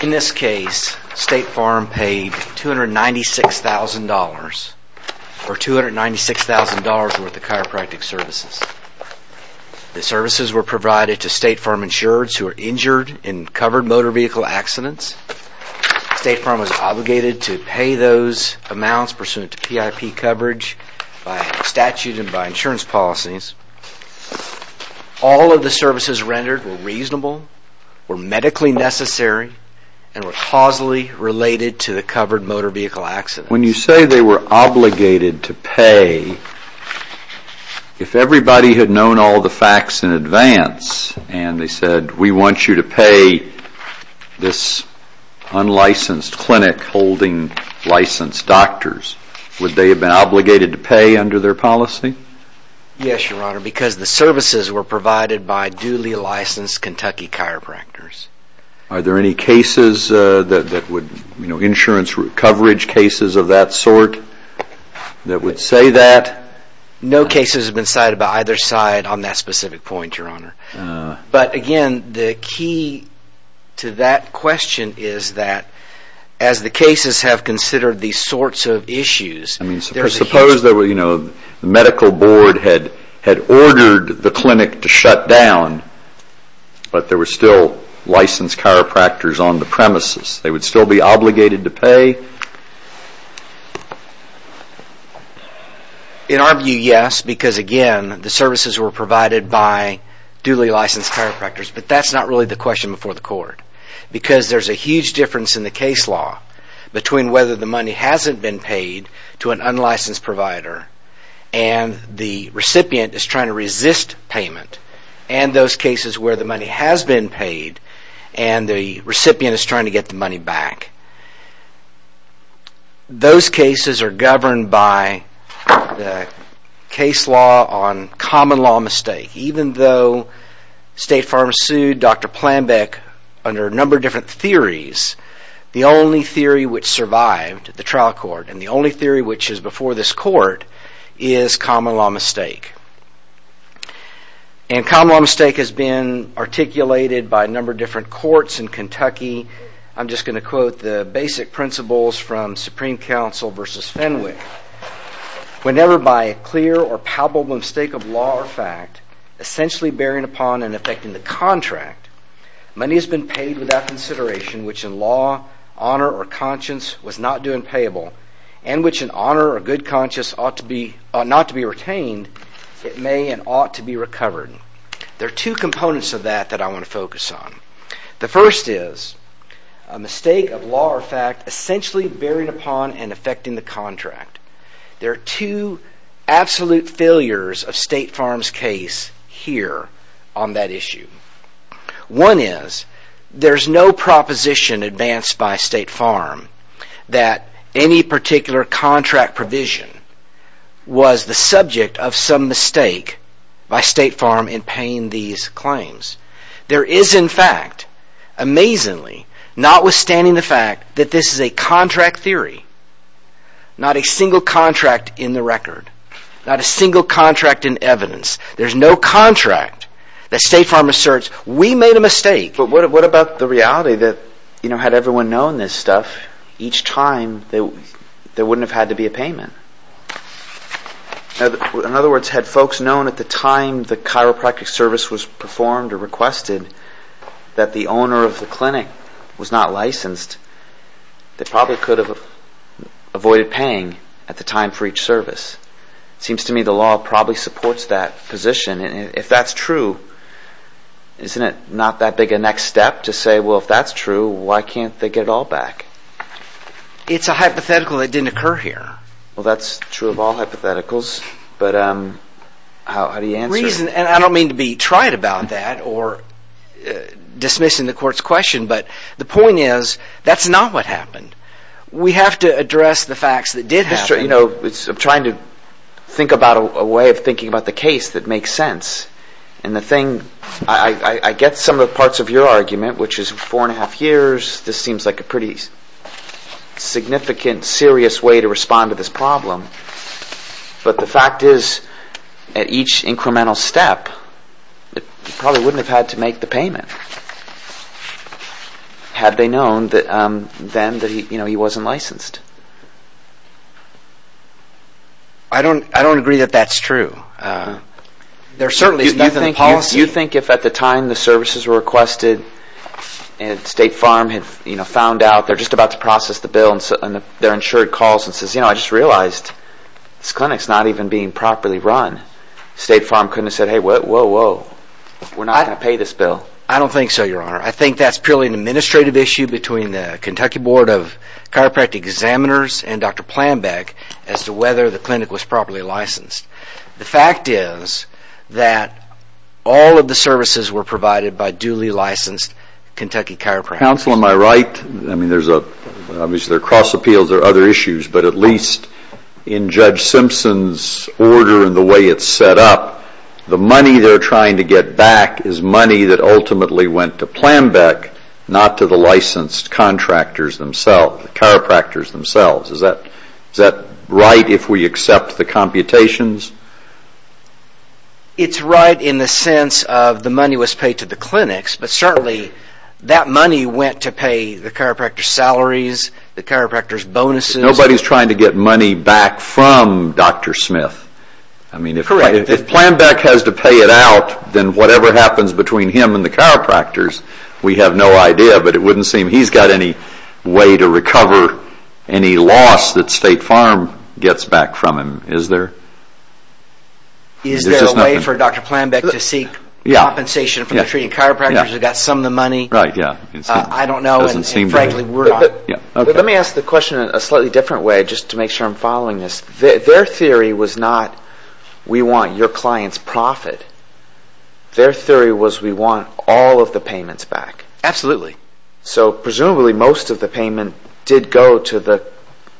In this case, State Farm paid $296,000 or $296,000 worth of chiropractic services. The services were provided to State Farm insurers who were injured in covered motor vehicle accidents. State Farm was obligated to pay those amounts pursuant to PIP coverage by statute and by insurance policies. All of the services rendered were reasonable, were medically necessary, and were causally related to the covered motor vehicle accident. When you say they were obligated to pay, if everybody had known all the facts in advance and they said, we want you to pay this unlicensed clinic holding licensed doctors, would they have been obligated to pay under their policy? Yes, Your Honor, because the services were provided by duly licensed Kentucky chiropractors. Are there any insurance coverage cases of that sort that would say that? No cases have been cited by either side on that specific point, Your Honor. But again, the key to that question is that as the cases have considered these sorts of issues, Suppose the medical board had ordered the clinic to shut down, but there were still licensed chiropractors on the premises. They would still be obligated to pay? In our view, yes, because again, the services were provided by duly licensed chiropractors. But that's not really the question before the court, because there's a huge difference in the case law between whether the money hasn't been paid to an unlicensed provider and the recipient is trying to resist payment, and those cases where the money has been paid and the recipient is trying to get the money back. Those cases are governed by the case law on common law mistake. Even though State Farm sued Dr. Planbeck under a number of different theories, the only theory which survived the trial court and the only theory which is before this court is common law mistake. And common law mistake has been articulated by a number of different courts in Kentucky. I'm just going to quote the basic principles from Supreme Council versus Fenwick. Whenever by a clear or palpable mistake of law or fact, essentially bearing upon and affecting the contract, money has been paid without consideration which in law, honor, or conscience was not due and payable, and which in honor or good conscience ought not to be retained, it may and ought to be recovered. There are two components of that that I want to focus on. The first is a mistake of law or fact essentially bearing upon and affecting the contract. There are two absolute failures of State Farm's case here on that issue. One is there's no proposition advanced by State Farm that any particular contract provision was the subject of some mistake by State Farm in paying these claims. There is in fact, amazingly, notwithstanding the fact that this is a contract theory, not a single contract in the record, not a single contract in evidence, there's no contract that State Farm asserts, we made a mistake. But what about the reality that, you know, had everyone known this stuff, each time there wouldn't have had to be a payment? In other words, had folks known at the time the chiropractic service was performed or requested that the owner of the clinic was not licensed, they probably could have avoided paying at the time for each service. It seems to me the law probably supports that position, and if that's true, isn't it not that big a next step to say, well, if that's true, why can't they get it all back? It's a hypothetical that didn't occur here. Well, that's true of all hypotheticals, but how do you answer it? Reason, and I don't mean to be trite about that or dismissing the court's question, but the point is, that's not what happened. We have to address the facts that did happen. I'm trying to think about a way of thinking about the case that makes sense, and the thing, I get some of the parts of your argument, which is four and a half years, this seems like a pretty significant, serious way to respond to this problem, but the fact is, at each incremental step, you probably wouldn't have had to make the payment, had they known then that he wasn't licensed. I don't agree that that's true. You think if at the time the services were requested, and State Farm had found out they're just about to process the bill, and they're insured calls and says, you know, I just realized this clinic's not even being properly run, State Farm couldn't have said, hey, whoa, whoa, we're not going to pay this bill. I don't think so, your honor. I think that's purely an administrative issue between the Kentucky Board of Chiropractic Examiners and Dr. Plambeck as to whether the clinic was properly licensed. The fact is that all of the services were provided by duly licensed Kentucky chiropractors. Counsel, am I right? I mean, obviously there are cross appeals, there are other issues, but at least in Judge Simpson's order and the way it's set up, the money they're trying to get back is money that ultimately went to Plambeck, not to the licensed contractors themselves, chiropractors themselves. Is that right if we accept the computations? It's right in the sense of the money was paid to the clinics, but certainly that money went to pay the chiropractor's salaries, the chiropractor's bonuses. Nobody's trying to get money back from Dr. Smith. I mean, if Plambeck has to pay it out, then whatever happens between him and the chiropractors, we have no idea, but it wouldn't seem he's got any way to recover any loss that State Farm gets back from him, is there? Is there a way for Dr. Plambeck to seek compensation from the treating chiropractors who got some of the money? I don't know, and frankly, we're not. Let me ask the question in a slightly different way, just to make sure I'm following this. Their theory was not, we want your clients' profit. Their theory was, we want all of the payments back. Absolutely. So presumably most of the payment did go to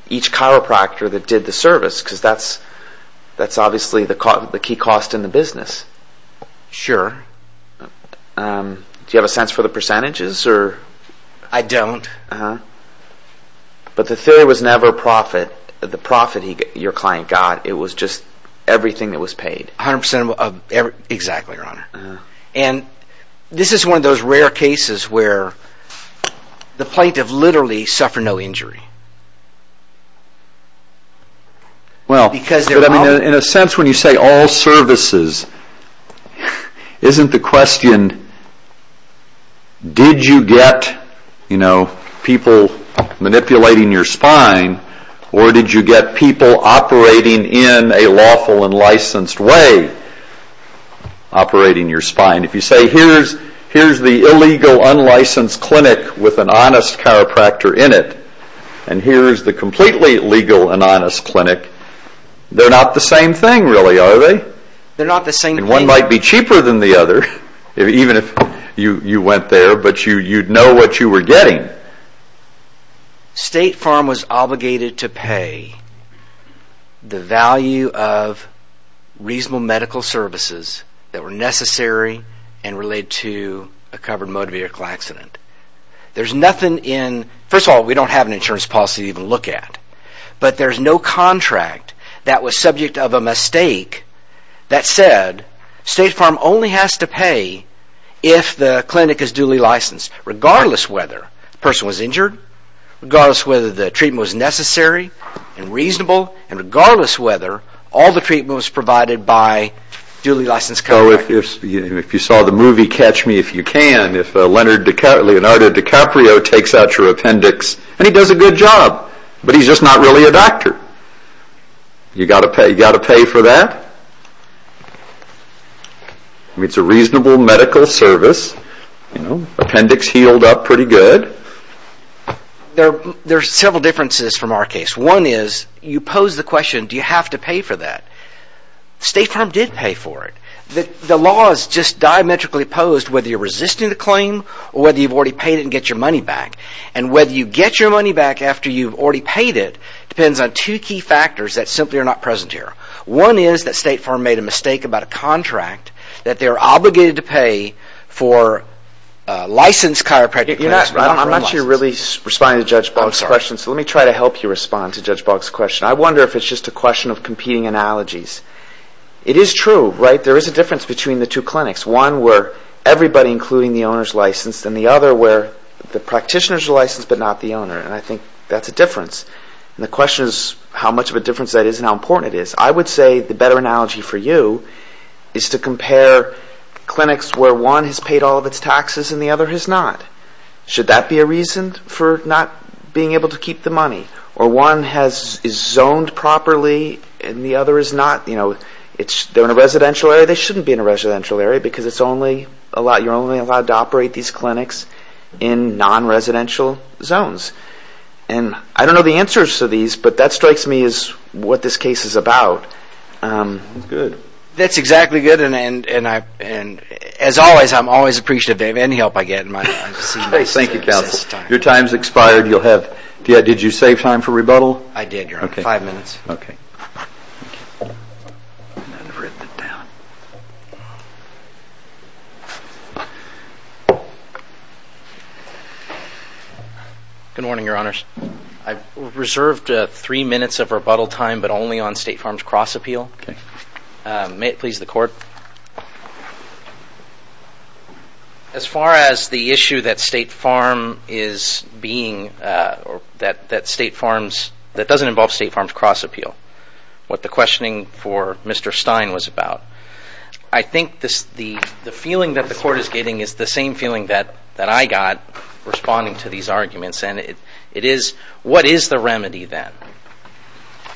each chiropractor that did the service, because that's obviously the key cost in the business. Sure. Do you have a sense for the percentages? I don't. But the theory was never profit, the profit your client got, it was just everything that was paid. Exactly, Your Honor. This is one of those rare cases where the plaintiff literally suffered no injury. In a sense, when you say all services, isn't the question, did you get people manipulating your spine, or did you get people operating in a lawful and licensed way? Operating your spine. If you say, here's the illegal, unlicensed clinic with an honest chiropractor in it, and here's the completely legal and honest clinic, they're not the same thing, really, are they? They're not the same thing. One might be cheaper than the other, even if you went there, but you'd know what you were getting. State Farm was obligated to pay the value of reasonable medical services that were necessary and related to a covered motor vehicle accident. There's nothing in, first of all, we don't have an insurance policy to even look at, but there's no contract that was subject of a mistake that said, State Farm only has to pay if the clinic is duly licensed, regardless whether the person was injured, regardless whether the treatment was necessary and reasonable, and regardless whether all the treatment was provided by a duly licensed chiropractor. If you saw the movie Catch Me If You Can, if Leonardo DiCaprio takes out your appendix, and he does a good job, but he's just not really a doctor. You've got to pay for that? It's a reasonable medical service. Appendix healed up pretty good. There are several differences from our case. One is, you pose the question, do you have to pay for that? State Farm did pay for it. The law is just diametrically opposed whether you're resisting the claim, or whether you've already paid it and get your money back. And whether you get your money back after you've already paid it depends on two key factors that simply are not present here. One is that State Farm made a mistake about a contract that they're obligated to pay for licensed chiropractic clinics. I'm not sure you're really responding to Judge Boggs' question, so let me try to help you respond to Judge Boggs' question. I wonder if it's just a question of competing analogies. It is true, right? There is a difference between the two clinics. One where everybody, including the owner, is licensed, and the other where the practitioner is licensed, but not the owner. And I think that's a difference. And the question is how much of a difference that is and how important it is. I would say the better analogy for you is to compare clinics where one has paid all of its taxes and the other has not. Should that be a reason for not being able to keep the money? Or one is zoned properly and the other is not? They're in a residential area? They shouldn't be in a residential area because you're only allowed to operate these clinics in non-residential zones. I don't know the answers to these, but that strikes me as what this case is about. That's good. That's exactly good. As always, I'm always appreciative of any help I get. Thank you, Counselor. Your time has expired. Did you save time for rebuttal? I did, Your Honor. Five minutes. Good morning, Your Honors. I've reserved three minutes of rebuttal time, but only on State Farm's cross-appeal. May it please the Court. As far as the issue that State Farm is being or that State Farm's that doesn't involve State Farm's cross-appeal, what the questioning for Mr. Stein was about, I think the feeling that the Court is getting is the same feeling that I got responding to these arguments, and it is, what is the remedy then?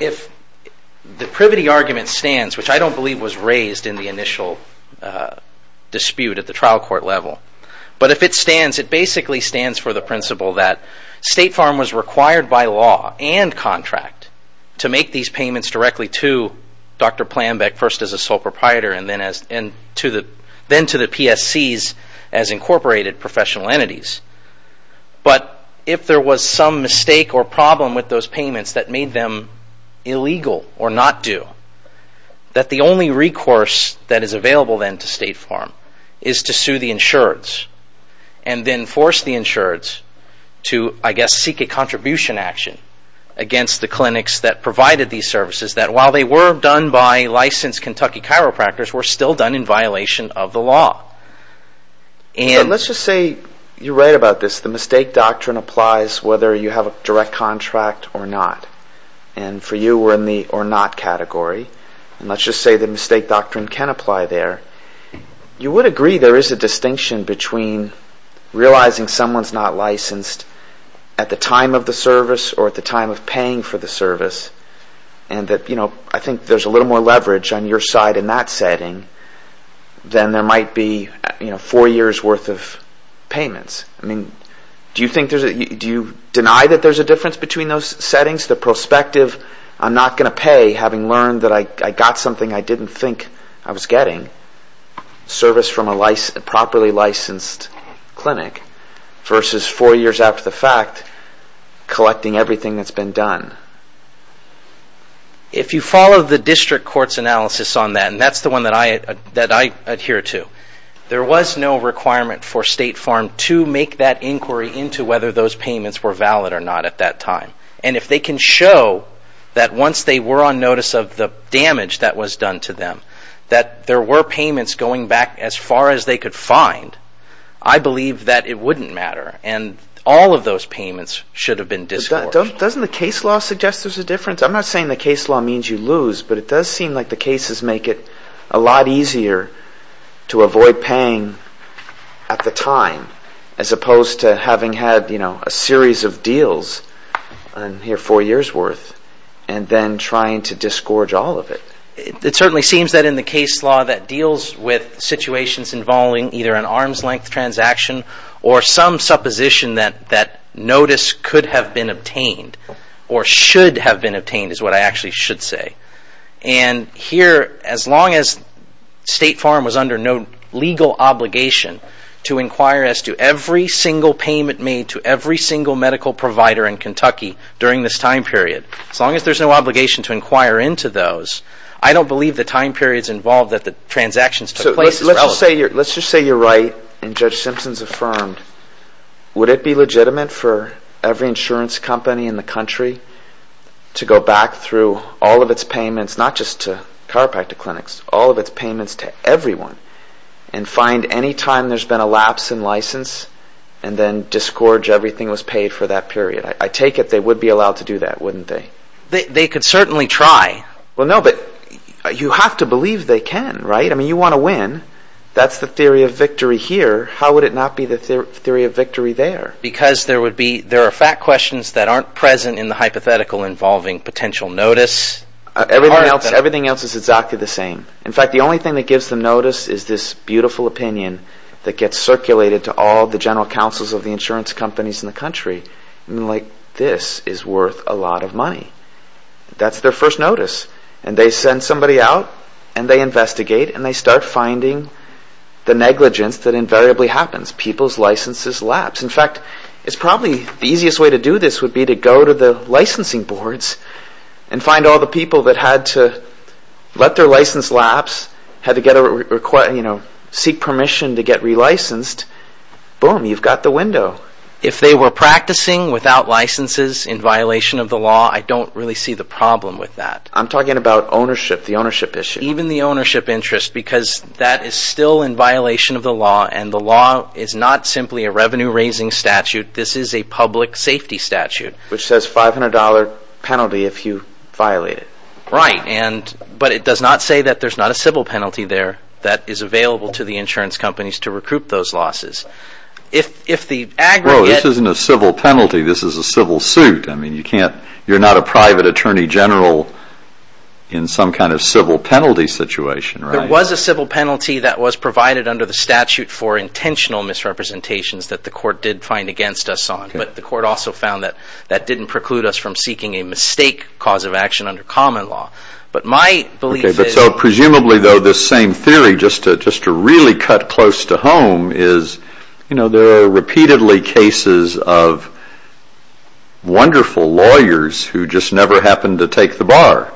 If the privity argument stands, which I don't believe was raised in the initial dispute at the trial court level, but if it stands, it basically stands for the principle that State Farm was required by law and contract to make these payments directly to Dr. Plambeck, first as a sole proprietor, and then to the PSCs as incorporated professional entities. But if there was some mistake or problem with those payments that made them illegal or not due, that the only recourse that is available then to State Farm is to sue the insureds, and then force the insureds to, I guess, seek a contribution action against the clinics that provided these services, that while they were done by licensed Kentucky chiropractors, were still done in violation of the law. And let's just say you're right about this, the mistake doctrine applies whether you have a direct contract or not. And for you, we're in the or not category. And let's just say the mistake doctrine can apply there. You would agree there is a distinction between realizing someone's not licensed at the time of the service or at the time of paying for the service, and that, you know, I think there's a little more leverage on your side in that setting than there might be four years worth of payments. I mean, do you deny that there's a difference between those settings? The prospective, I'm not going to pay having learned that I got something I didn't think I was getting, service from a properly licensed clinic, versus four years after the fact, collecting everything that's been done. If you follow the district court's analysis on that, and that's the one that I adhere to, there was no requirement for State Farm to make that inquiry into whether those payments were valid or not at that time. And if they can show that once they were on notice of the damage that was done to them, that there were payments going back as far as they could find, I believe that it wouldn't matter. And all of those payments should have been disgorged. But doesn't the case law suggest there's a difference? I'm not saying the case law means you lose, but it does seem like the cases make it a lot easier to avoid paying at the time, as opposed to having had, you know, a series of deals in here four years worth, and then trying to disgorge all of it. It certainly seems that in the case law that deals with situations involving either an arm's-length transaction or some supposition that notice could have been obtained or should have been obtained, is what I actually should say. And here, as long as State Farm was under no legal obligation to inquire as to every single payment made to every single medical provider in Kentucky during this time period, as long as there's no obligation to inquire into those, I don't believe the time periods involved that the transactions took place is relevant. Let's just say you're right, and Judge Simpson's affirmed. Would it be legitimate for every insurance company in the country to go back through all of its payments, not just to chiropractic clinics, all of its payments to everyone, and find any time there's been a lapse in license, and then disgorge everything that was paid for that period? I take it they would be allowed to do that, wouldn't they? They could certainly try. Well, no, but you have to believe they can, right? I mean, you want to win. That's the theory of victory here. How would it not be the theory of victory there? Because there are fact questions that aren't present in the hypothetical involving potential notice. Everything else is exactly the same. In fact, the only thing that gives them notice is this beautiful opinion that gets circulated to all the general counsels of the insurance companies in the country. Like, this is worth a lot of money. That's their first notice. And they send somebody out, and they investigate, and they start finding the negligence that invariably happens. People's licenses lapse. In fact, probably the easiest way to do this would be to go to the licensing boards and find all the people that had to let their license lapse, had to seek permission to get re-licensed. Boom, you've got the window. If they were practicing without licenses in violation of the law, I don't really see the problem with that. I'm talking about ownership, the ownership issue. Even the ownership interest, because that is still in violation of the law, and the law is not simply a revenue-raising statute. This is a public safety statute. Which says $500 penalty if you violate it. Right, but it does not say that there's not a civil penalty there that is available to the insurance companies to recruit those losses. If the aggregate... Well, this isn't a civil penalty. This is a civil suit. I mean, you can't... You're not a private attorney general in some kind of civil penalty situation, right? There was a civil penalty that was provided under the statute for intentional misrepresentations that the court did find against us on. But the court also found that that didn't preclude us from seeking a mistake cause of action under common law. But my belief is... Okay, but so presumably though this same theory, just to really cut close to home, is there are repeatedly cases of wonderful lawyers who just never happened to take the bar.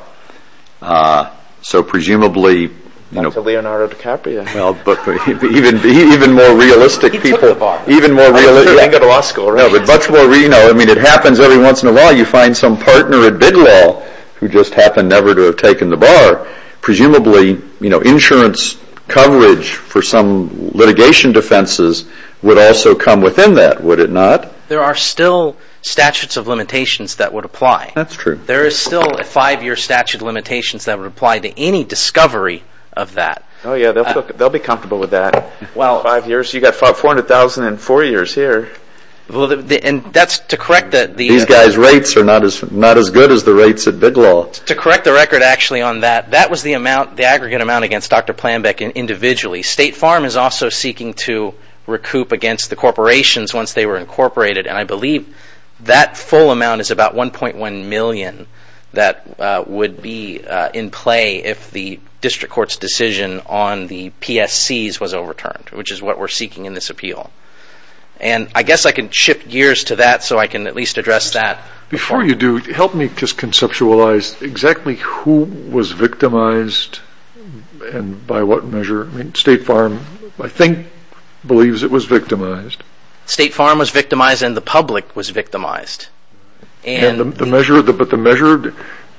So presumably... Not to Leonardo DiCaprio. Well, but even more realistic people... He took the bar. Even more realistic... I'm sure he didn't go to law school, right? No, but much more... I mean, it happens every once in a while. You find some partner at big law who just happened never to have taken the bar. Presumably, you know, insurance coverage for some litigation defenses would also come within that, would it not? There are still statutes of limitations that would apply. That's true. There is still a five-year statute of limitations that would apply to any discovery of that. Oh yeah, they'll be comfortable with that. Five years... You've got 400,000 in four years here. And that's to correct the... These guys' rates are not as good as the rates at big law. Well, to correct the record actually on that, that was the aggregate amount against Dr. Planbeck individually. State Farm is also seeking to recoup against the corporations once they were incorporated, and I believe that full amount is about $1.1 million that would be in play if the district court's decision on the PSCs was overturned, which is what we're seeking in this appeal. And I guess I can shift gears to that so I can at least address that. Before you do, help me just conceptualize exactly who was victimized and by what measure. State Farm, I think, believes it was victimized. State Farm was victimized and the public was victimized. But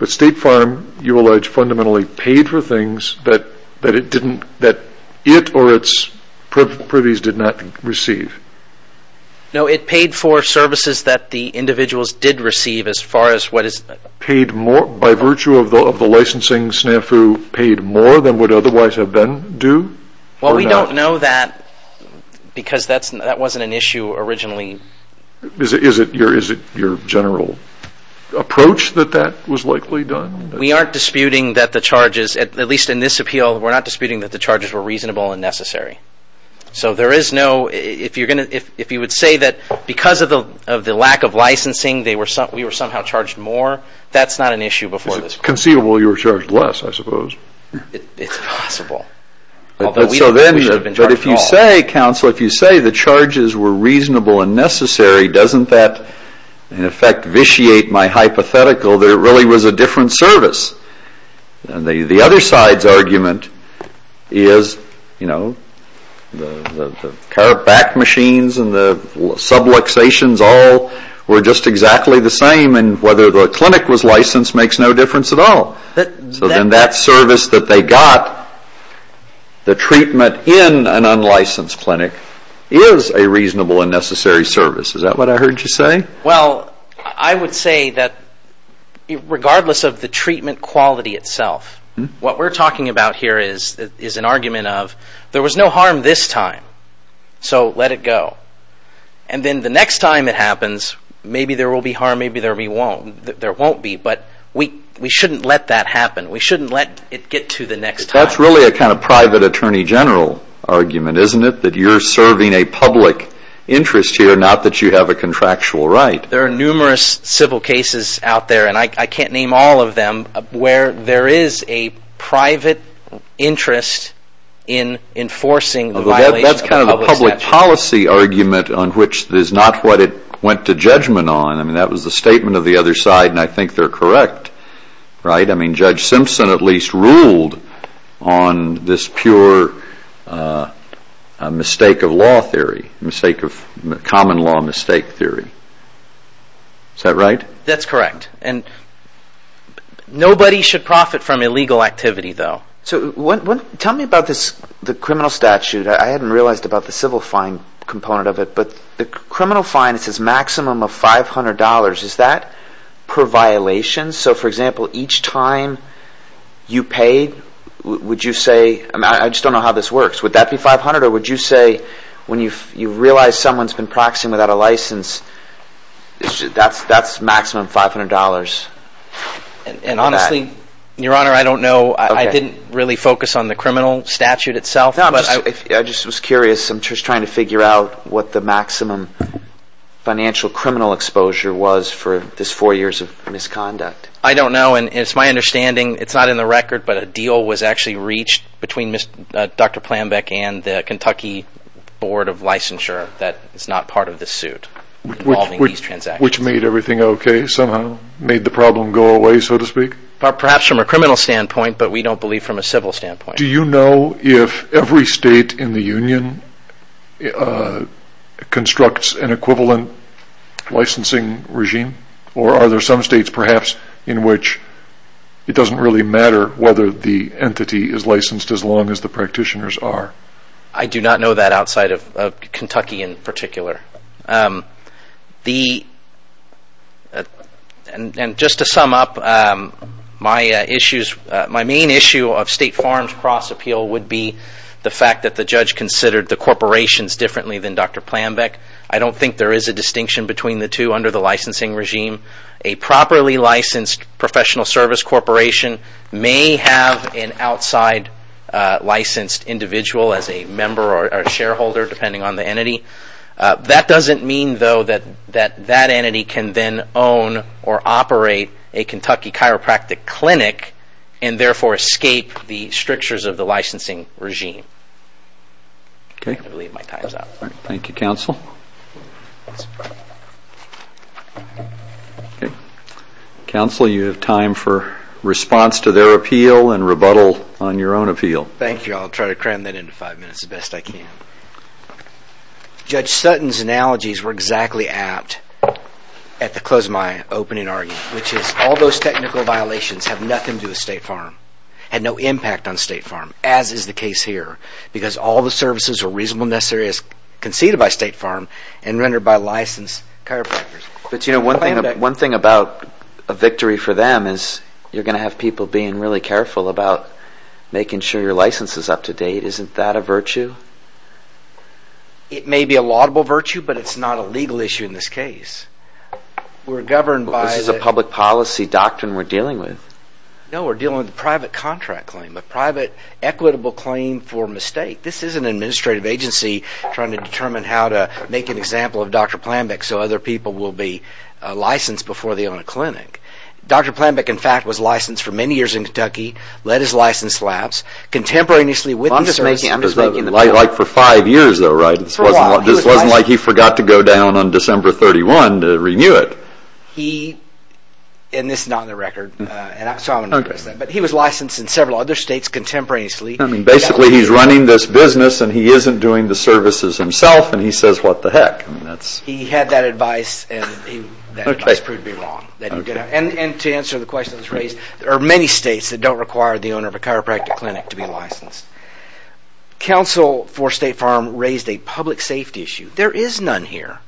State Farm, you allege, fundamentally paid for things that it or its privies did not receive. No, it paid for services that the individuals did receive as far as what is... By virtue of the licensing, SNFU paid more than would otherwise have been due? Well, we don't know that because that wasn't an issue originally. Is it your general approach that that was likely done? We aren't disputing that the charges, at least in this appeal, we're not disputing that the charges were reasonable and necessary. So there is no... If you would say that because of the lack of licensing, we were somehow charged more, that's not an issue before this court. It's conceivable you were charged less, I suppose. It's possible. But if you say, counsel, if you say the charges were reasonable and necessary, doesn't that, in effect, vitiate my hypothetical that it really was a different service? And the other side's argument is, you know, the car back machines and the subluxations all were just exactly the same, and whether the clinic was licensed makes no difference at all. So then that service that they got, the treatment in an unlicensed clinic, is a reasonable and necessary service. Is that what I heard you say? Well, I would say that regardless of the treatment quality itself, what we're talking about here is an argument of, there was no harm this time, so let it go. And then the next time it happens, maybe there will be harm, maybe there won't be. But we shouldn't let that happen. We shouldn't let it get to the next time. That's really a kind of private attorney general argument, isn't it? That you're serving a public interest here, not that you have a contractual right. There are numerous civil cases out there, and I can't name all of them, where there is a private interest in enforcing the violation of a public statute. That's kind of a public policy argument on which is not what it went to judgment on. I mean, that was the statement of the other side, and I think they're correct, right? I mean, Judge Simpson at least ruled on this pure mistake of law theory, common law mistake theory. Is that right? That's correct. And nobody should profit from illegal activity, though. So tell me about the criminal statute. I hadn't realized about the civil fine component of it, but the criminal fine, it says maximum of $500. Is that per violation? So, for example, each time you paid, would you say, I just don't know how this works, would that be $500, or would you say when you realize someone's been practicing without a license, that's maximum $500? And honestly, Your Honor, I don't know. I didn't really focus on the criminal statute itself. No, I just was curious. I'm just trying to figure out what the maximum financial criminal exposure was for this four years of misconduct. I don't know, and it's my understanding, it's not in the record, but a deal was actually reached between Dr. Plambeck and the Kentucky Board of Licensure that it's not part of the suit involving these transactions. Which made everything okay somehow, made the problem go away, so to speak? Perhaps from a criminal standpoint, but we don't believe from a civil standpoint. Do you know if every state in the union constructs an equivalent licensing regime? Or are there some states, perhaps, in which it doesn't really matter whether the entity is licensed as long as the practitioners are? I do not know that outside of Kentucky in particular. Just to sum up, my main issue of State Farm's cross-appeal would be the fact that the judge considered the corporations differently than Dr. Plambeck. I don't think there is a distinction between the two under the licensing regime. A properly licensed professional service corporation may have an outside licensed individual as a member or shareholder, depending on the entity. That doesn't mean, though, that that entity can then own or operate a Kentucky chiropractic clinic and therefore escape the strictures of the licensing regime. I'm going to leave my times out. Thank you, Counsel. Counsel, you have time for response to their appeal and rebuttal on your own appeal. Thank you. I'll try to cram that into five minutes the best I can. Judge Sutton's analogies were exactly apt at the close of my opening argument, which is all those technical violations have nothing to do with State Farm, had no impact on State Farm, as is the case here, because all the services were reasonable and necessary as conceded by State Farm and rendered by licensed chiropractors. But, you know, one thing about a victory for them is you're going to have people being really careful about making sure your license is up to date. Isn't that a virtue? It may be a laudable virtue, but it's not a legal issue in this case. This is a public policy doctrine we're dealing with. No, we're dealing with a private contract claim, a private equitable claim for mistake. This isn't an administrative agency trying to determine how to make an example of Dr. Planbeck so other people will be licensed before they own a clinic. Dr. Planbeck, in fact, was licensed for many years in Kentucky, led his licensed labs, contemporaneously with the services... I'm just making the point... Like for five years though, right? For a while. This wasn't like he forgot to go down on December 31 to renew it. He, and this is not on the record, so I won't address that, but he was licensed in several other states contemporaneously. Basically, he's running this business and he isn't doing the services himself and he says what the heck. He had that advice and that advice proved to be wrong. And to answer the question that was raised, there are many states that don't require the owner of a chiropractic clinic to be licensed. Counsel for State Farm raised a public safety issue. There is none here.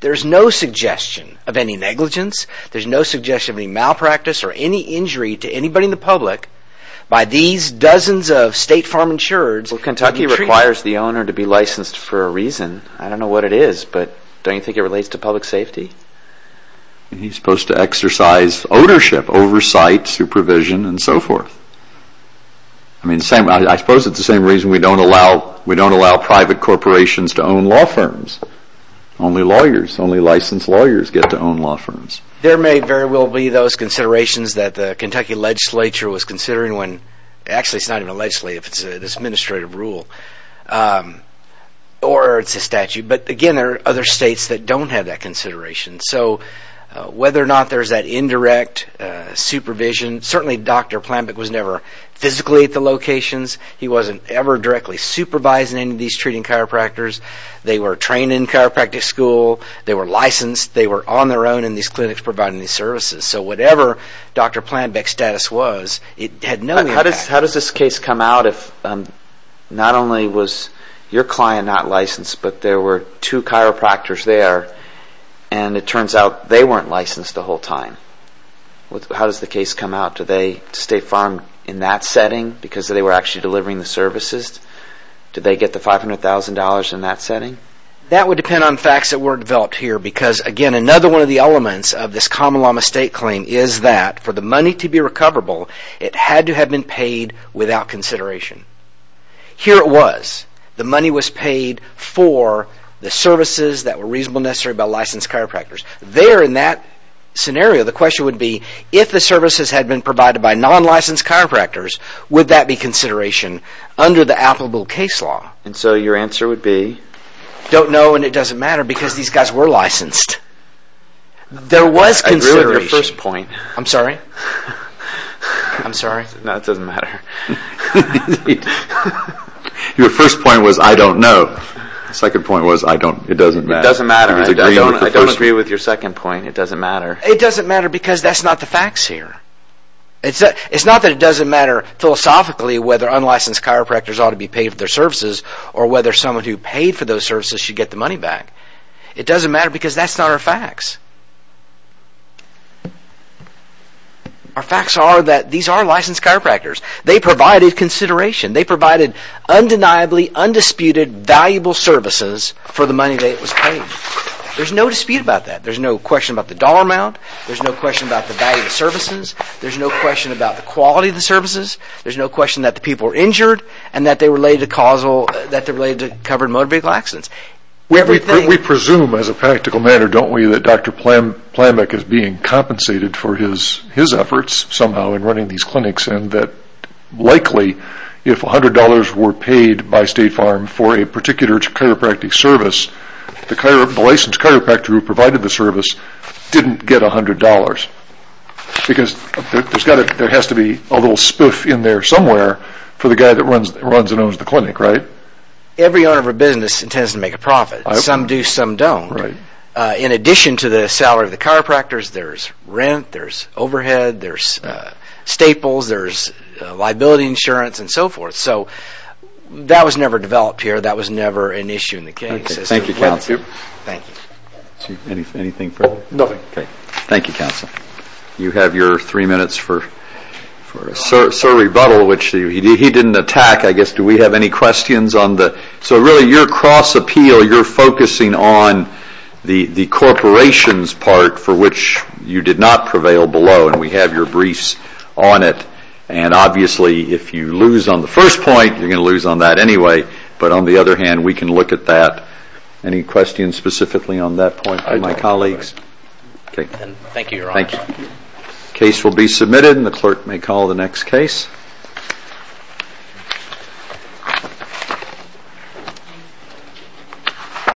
There's no suggestion of any negligence. There's no suggestion of any malpractice or any injury to anybody in the public by these dozens of State Farm insurers... Well, Kentucky requires the owner to be licensed for a reason. I don't know what it is, but don't you think it relates to public safety? He's supposed to exercise ownership, oversight, supervision, and so forth. I suppose it's the same reason we don't allow private corporations to own law firms. Only lawyers, only licensed lawyers get to own law firms. There may very well be those considerations that the Kentucky legislature was considering when actually it's not even a legislature, it's an administrative rule. Or it's a statute. But again, there are other states that don't have that consideration. So whether or not there's that indirect supervision... Certainly Dr. Planbeck was never physically at the locations. He wasn't ever directly supervising any of these treating chiropractors. They were trained in chiropractic school. They were licensed. They were on their own in these clinics providing these services. So whatever Dr. Planbeck's status was, it had no impact. How does this case come out if not only was your client not licensed, but there were two chiropractors there, and it turns out they weren't licensed the whole time? How does the case come out? Did they stay farmed in that setting because they were actually delivering the services? Did they get the $500,000 in that setting? That would depend on facts that weren't developed here. Because, again, another one of the elements of this common law mistake claim is that for the money to be recoverable, it had to have been paid without consideration. Here it was. The money was paid for the services that were reasonable and necessary by licensed chiropractors. There, in that scenario, the question would be, if the services had been provided by non-licensed chiropractors, would that be consideration under the applicable case law? And so your answer would be? Don't know and it doesn't matter because these guys were licensed. There was consideration. I agree with your first point. I'm sorry? I'm sorry? No, it doesn't matter. Your first point was, I don't know. The second point was, it doesn't matter. It doesn't matter. I don't agree with your second point. It doesn't matter. It doesn't matter because that's not the facts here. It's not that it doesn't matter philosophically whether unlicensed chiropractors ought to be paid for their services or whether someone who paid for those services should get the money back. It doesn't matter because that's not our facts. Our facts are that these are licensed chiropractors. They provided consideration. They provided undeniably, undisputed, valuable services for the money that it was paid. There's no dispute about that. There's no question about the dollar amount. There's no question about the value of the services. There's no question about the quality of the services. There's no question that the people were injured and that they were related to covered motor vehicle accidents. We presume as a practical matter, don't we, that Dr. Plamek is being compensated for his efforts somehow in running these clinics and that likely, if $100 were paid by State Farm for a particular chiropractic service, the licensed chiropractor who provided the service didn't get $100 because there has to be a little spoof in there somewhere for the guy that runs and owns the clinic, right? Every owner of a business intends to make a profit. Some do, some don't. In addition to the salary of the chiropractors, there's rent, there's overhead, there's staples, there's liability insurance and so forth. So that was never developed here. That was never an issue in the case. Thank you, counsel. Thank you. Anything further? Nothing. Okay. Thank you, counsel. You have your three minutes for Sir Rebuttal, which he didn't attack. I guess, do we have any questions? So really, your cross-appeal, you're focusing on the corporations part for which you did not prevail below, and we have your briefs on it. And obviously, if you lose on the first point, you're going to lose on that anyway. But on the other hand, we can look at that. Any questions specifically on that point from my colleagues? Okay. Thank you, Your Honor. The case will be submitted, and the clerk may call the next case. Thank you.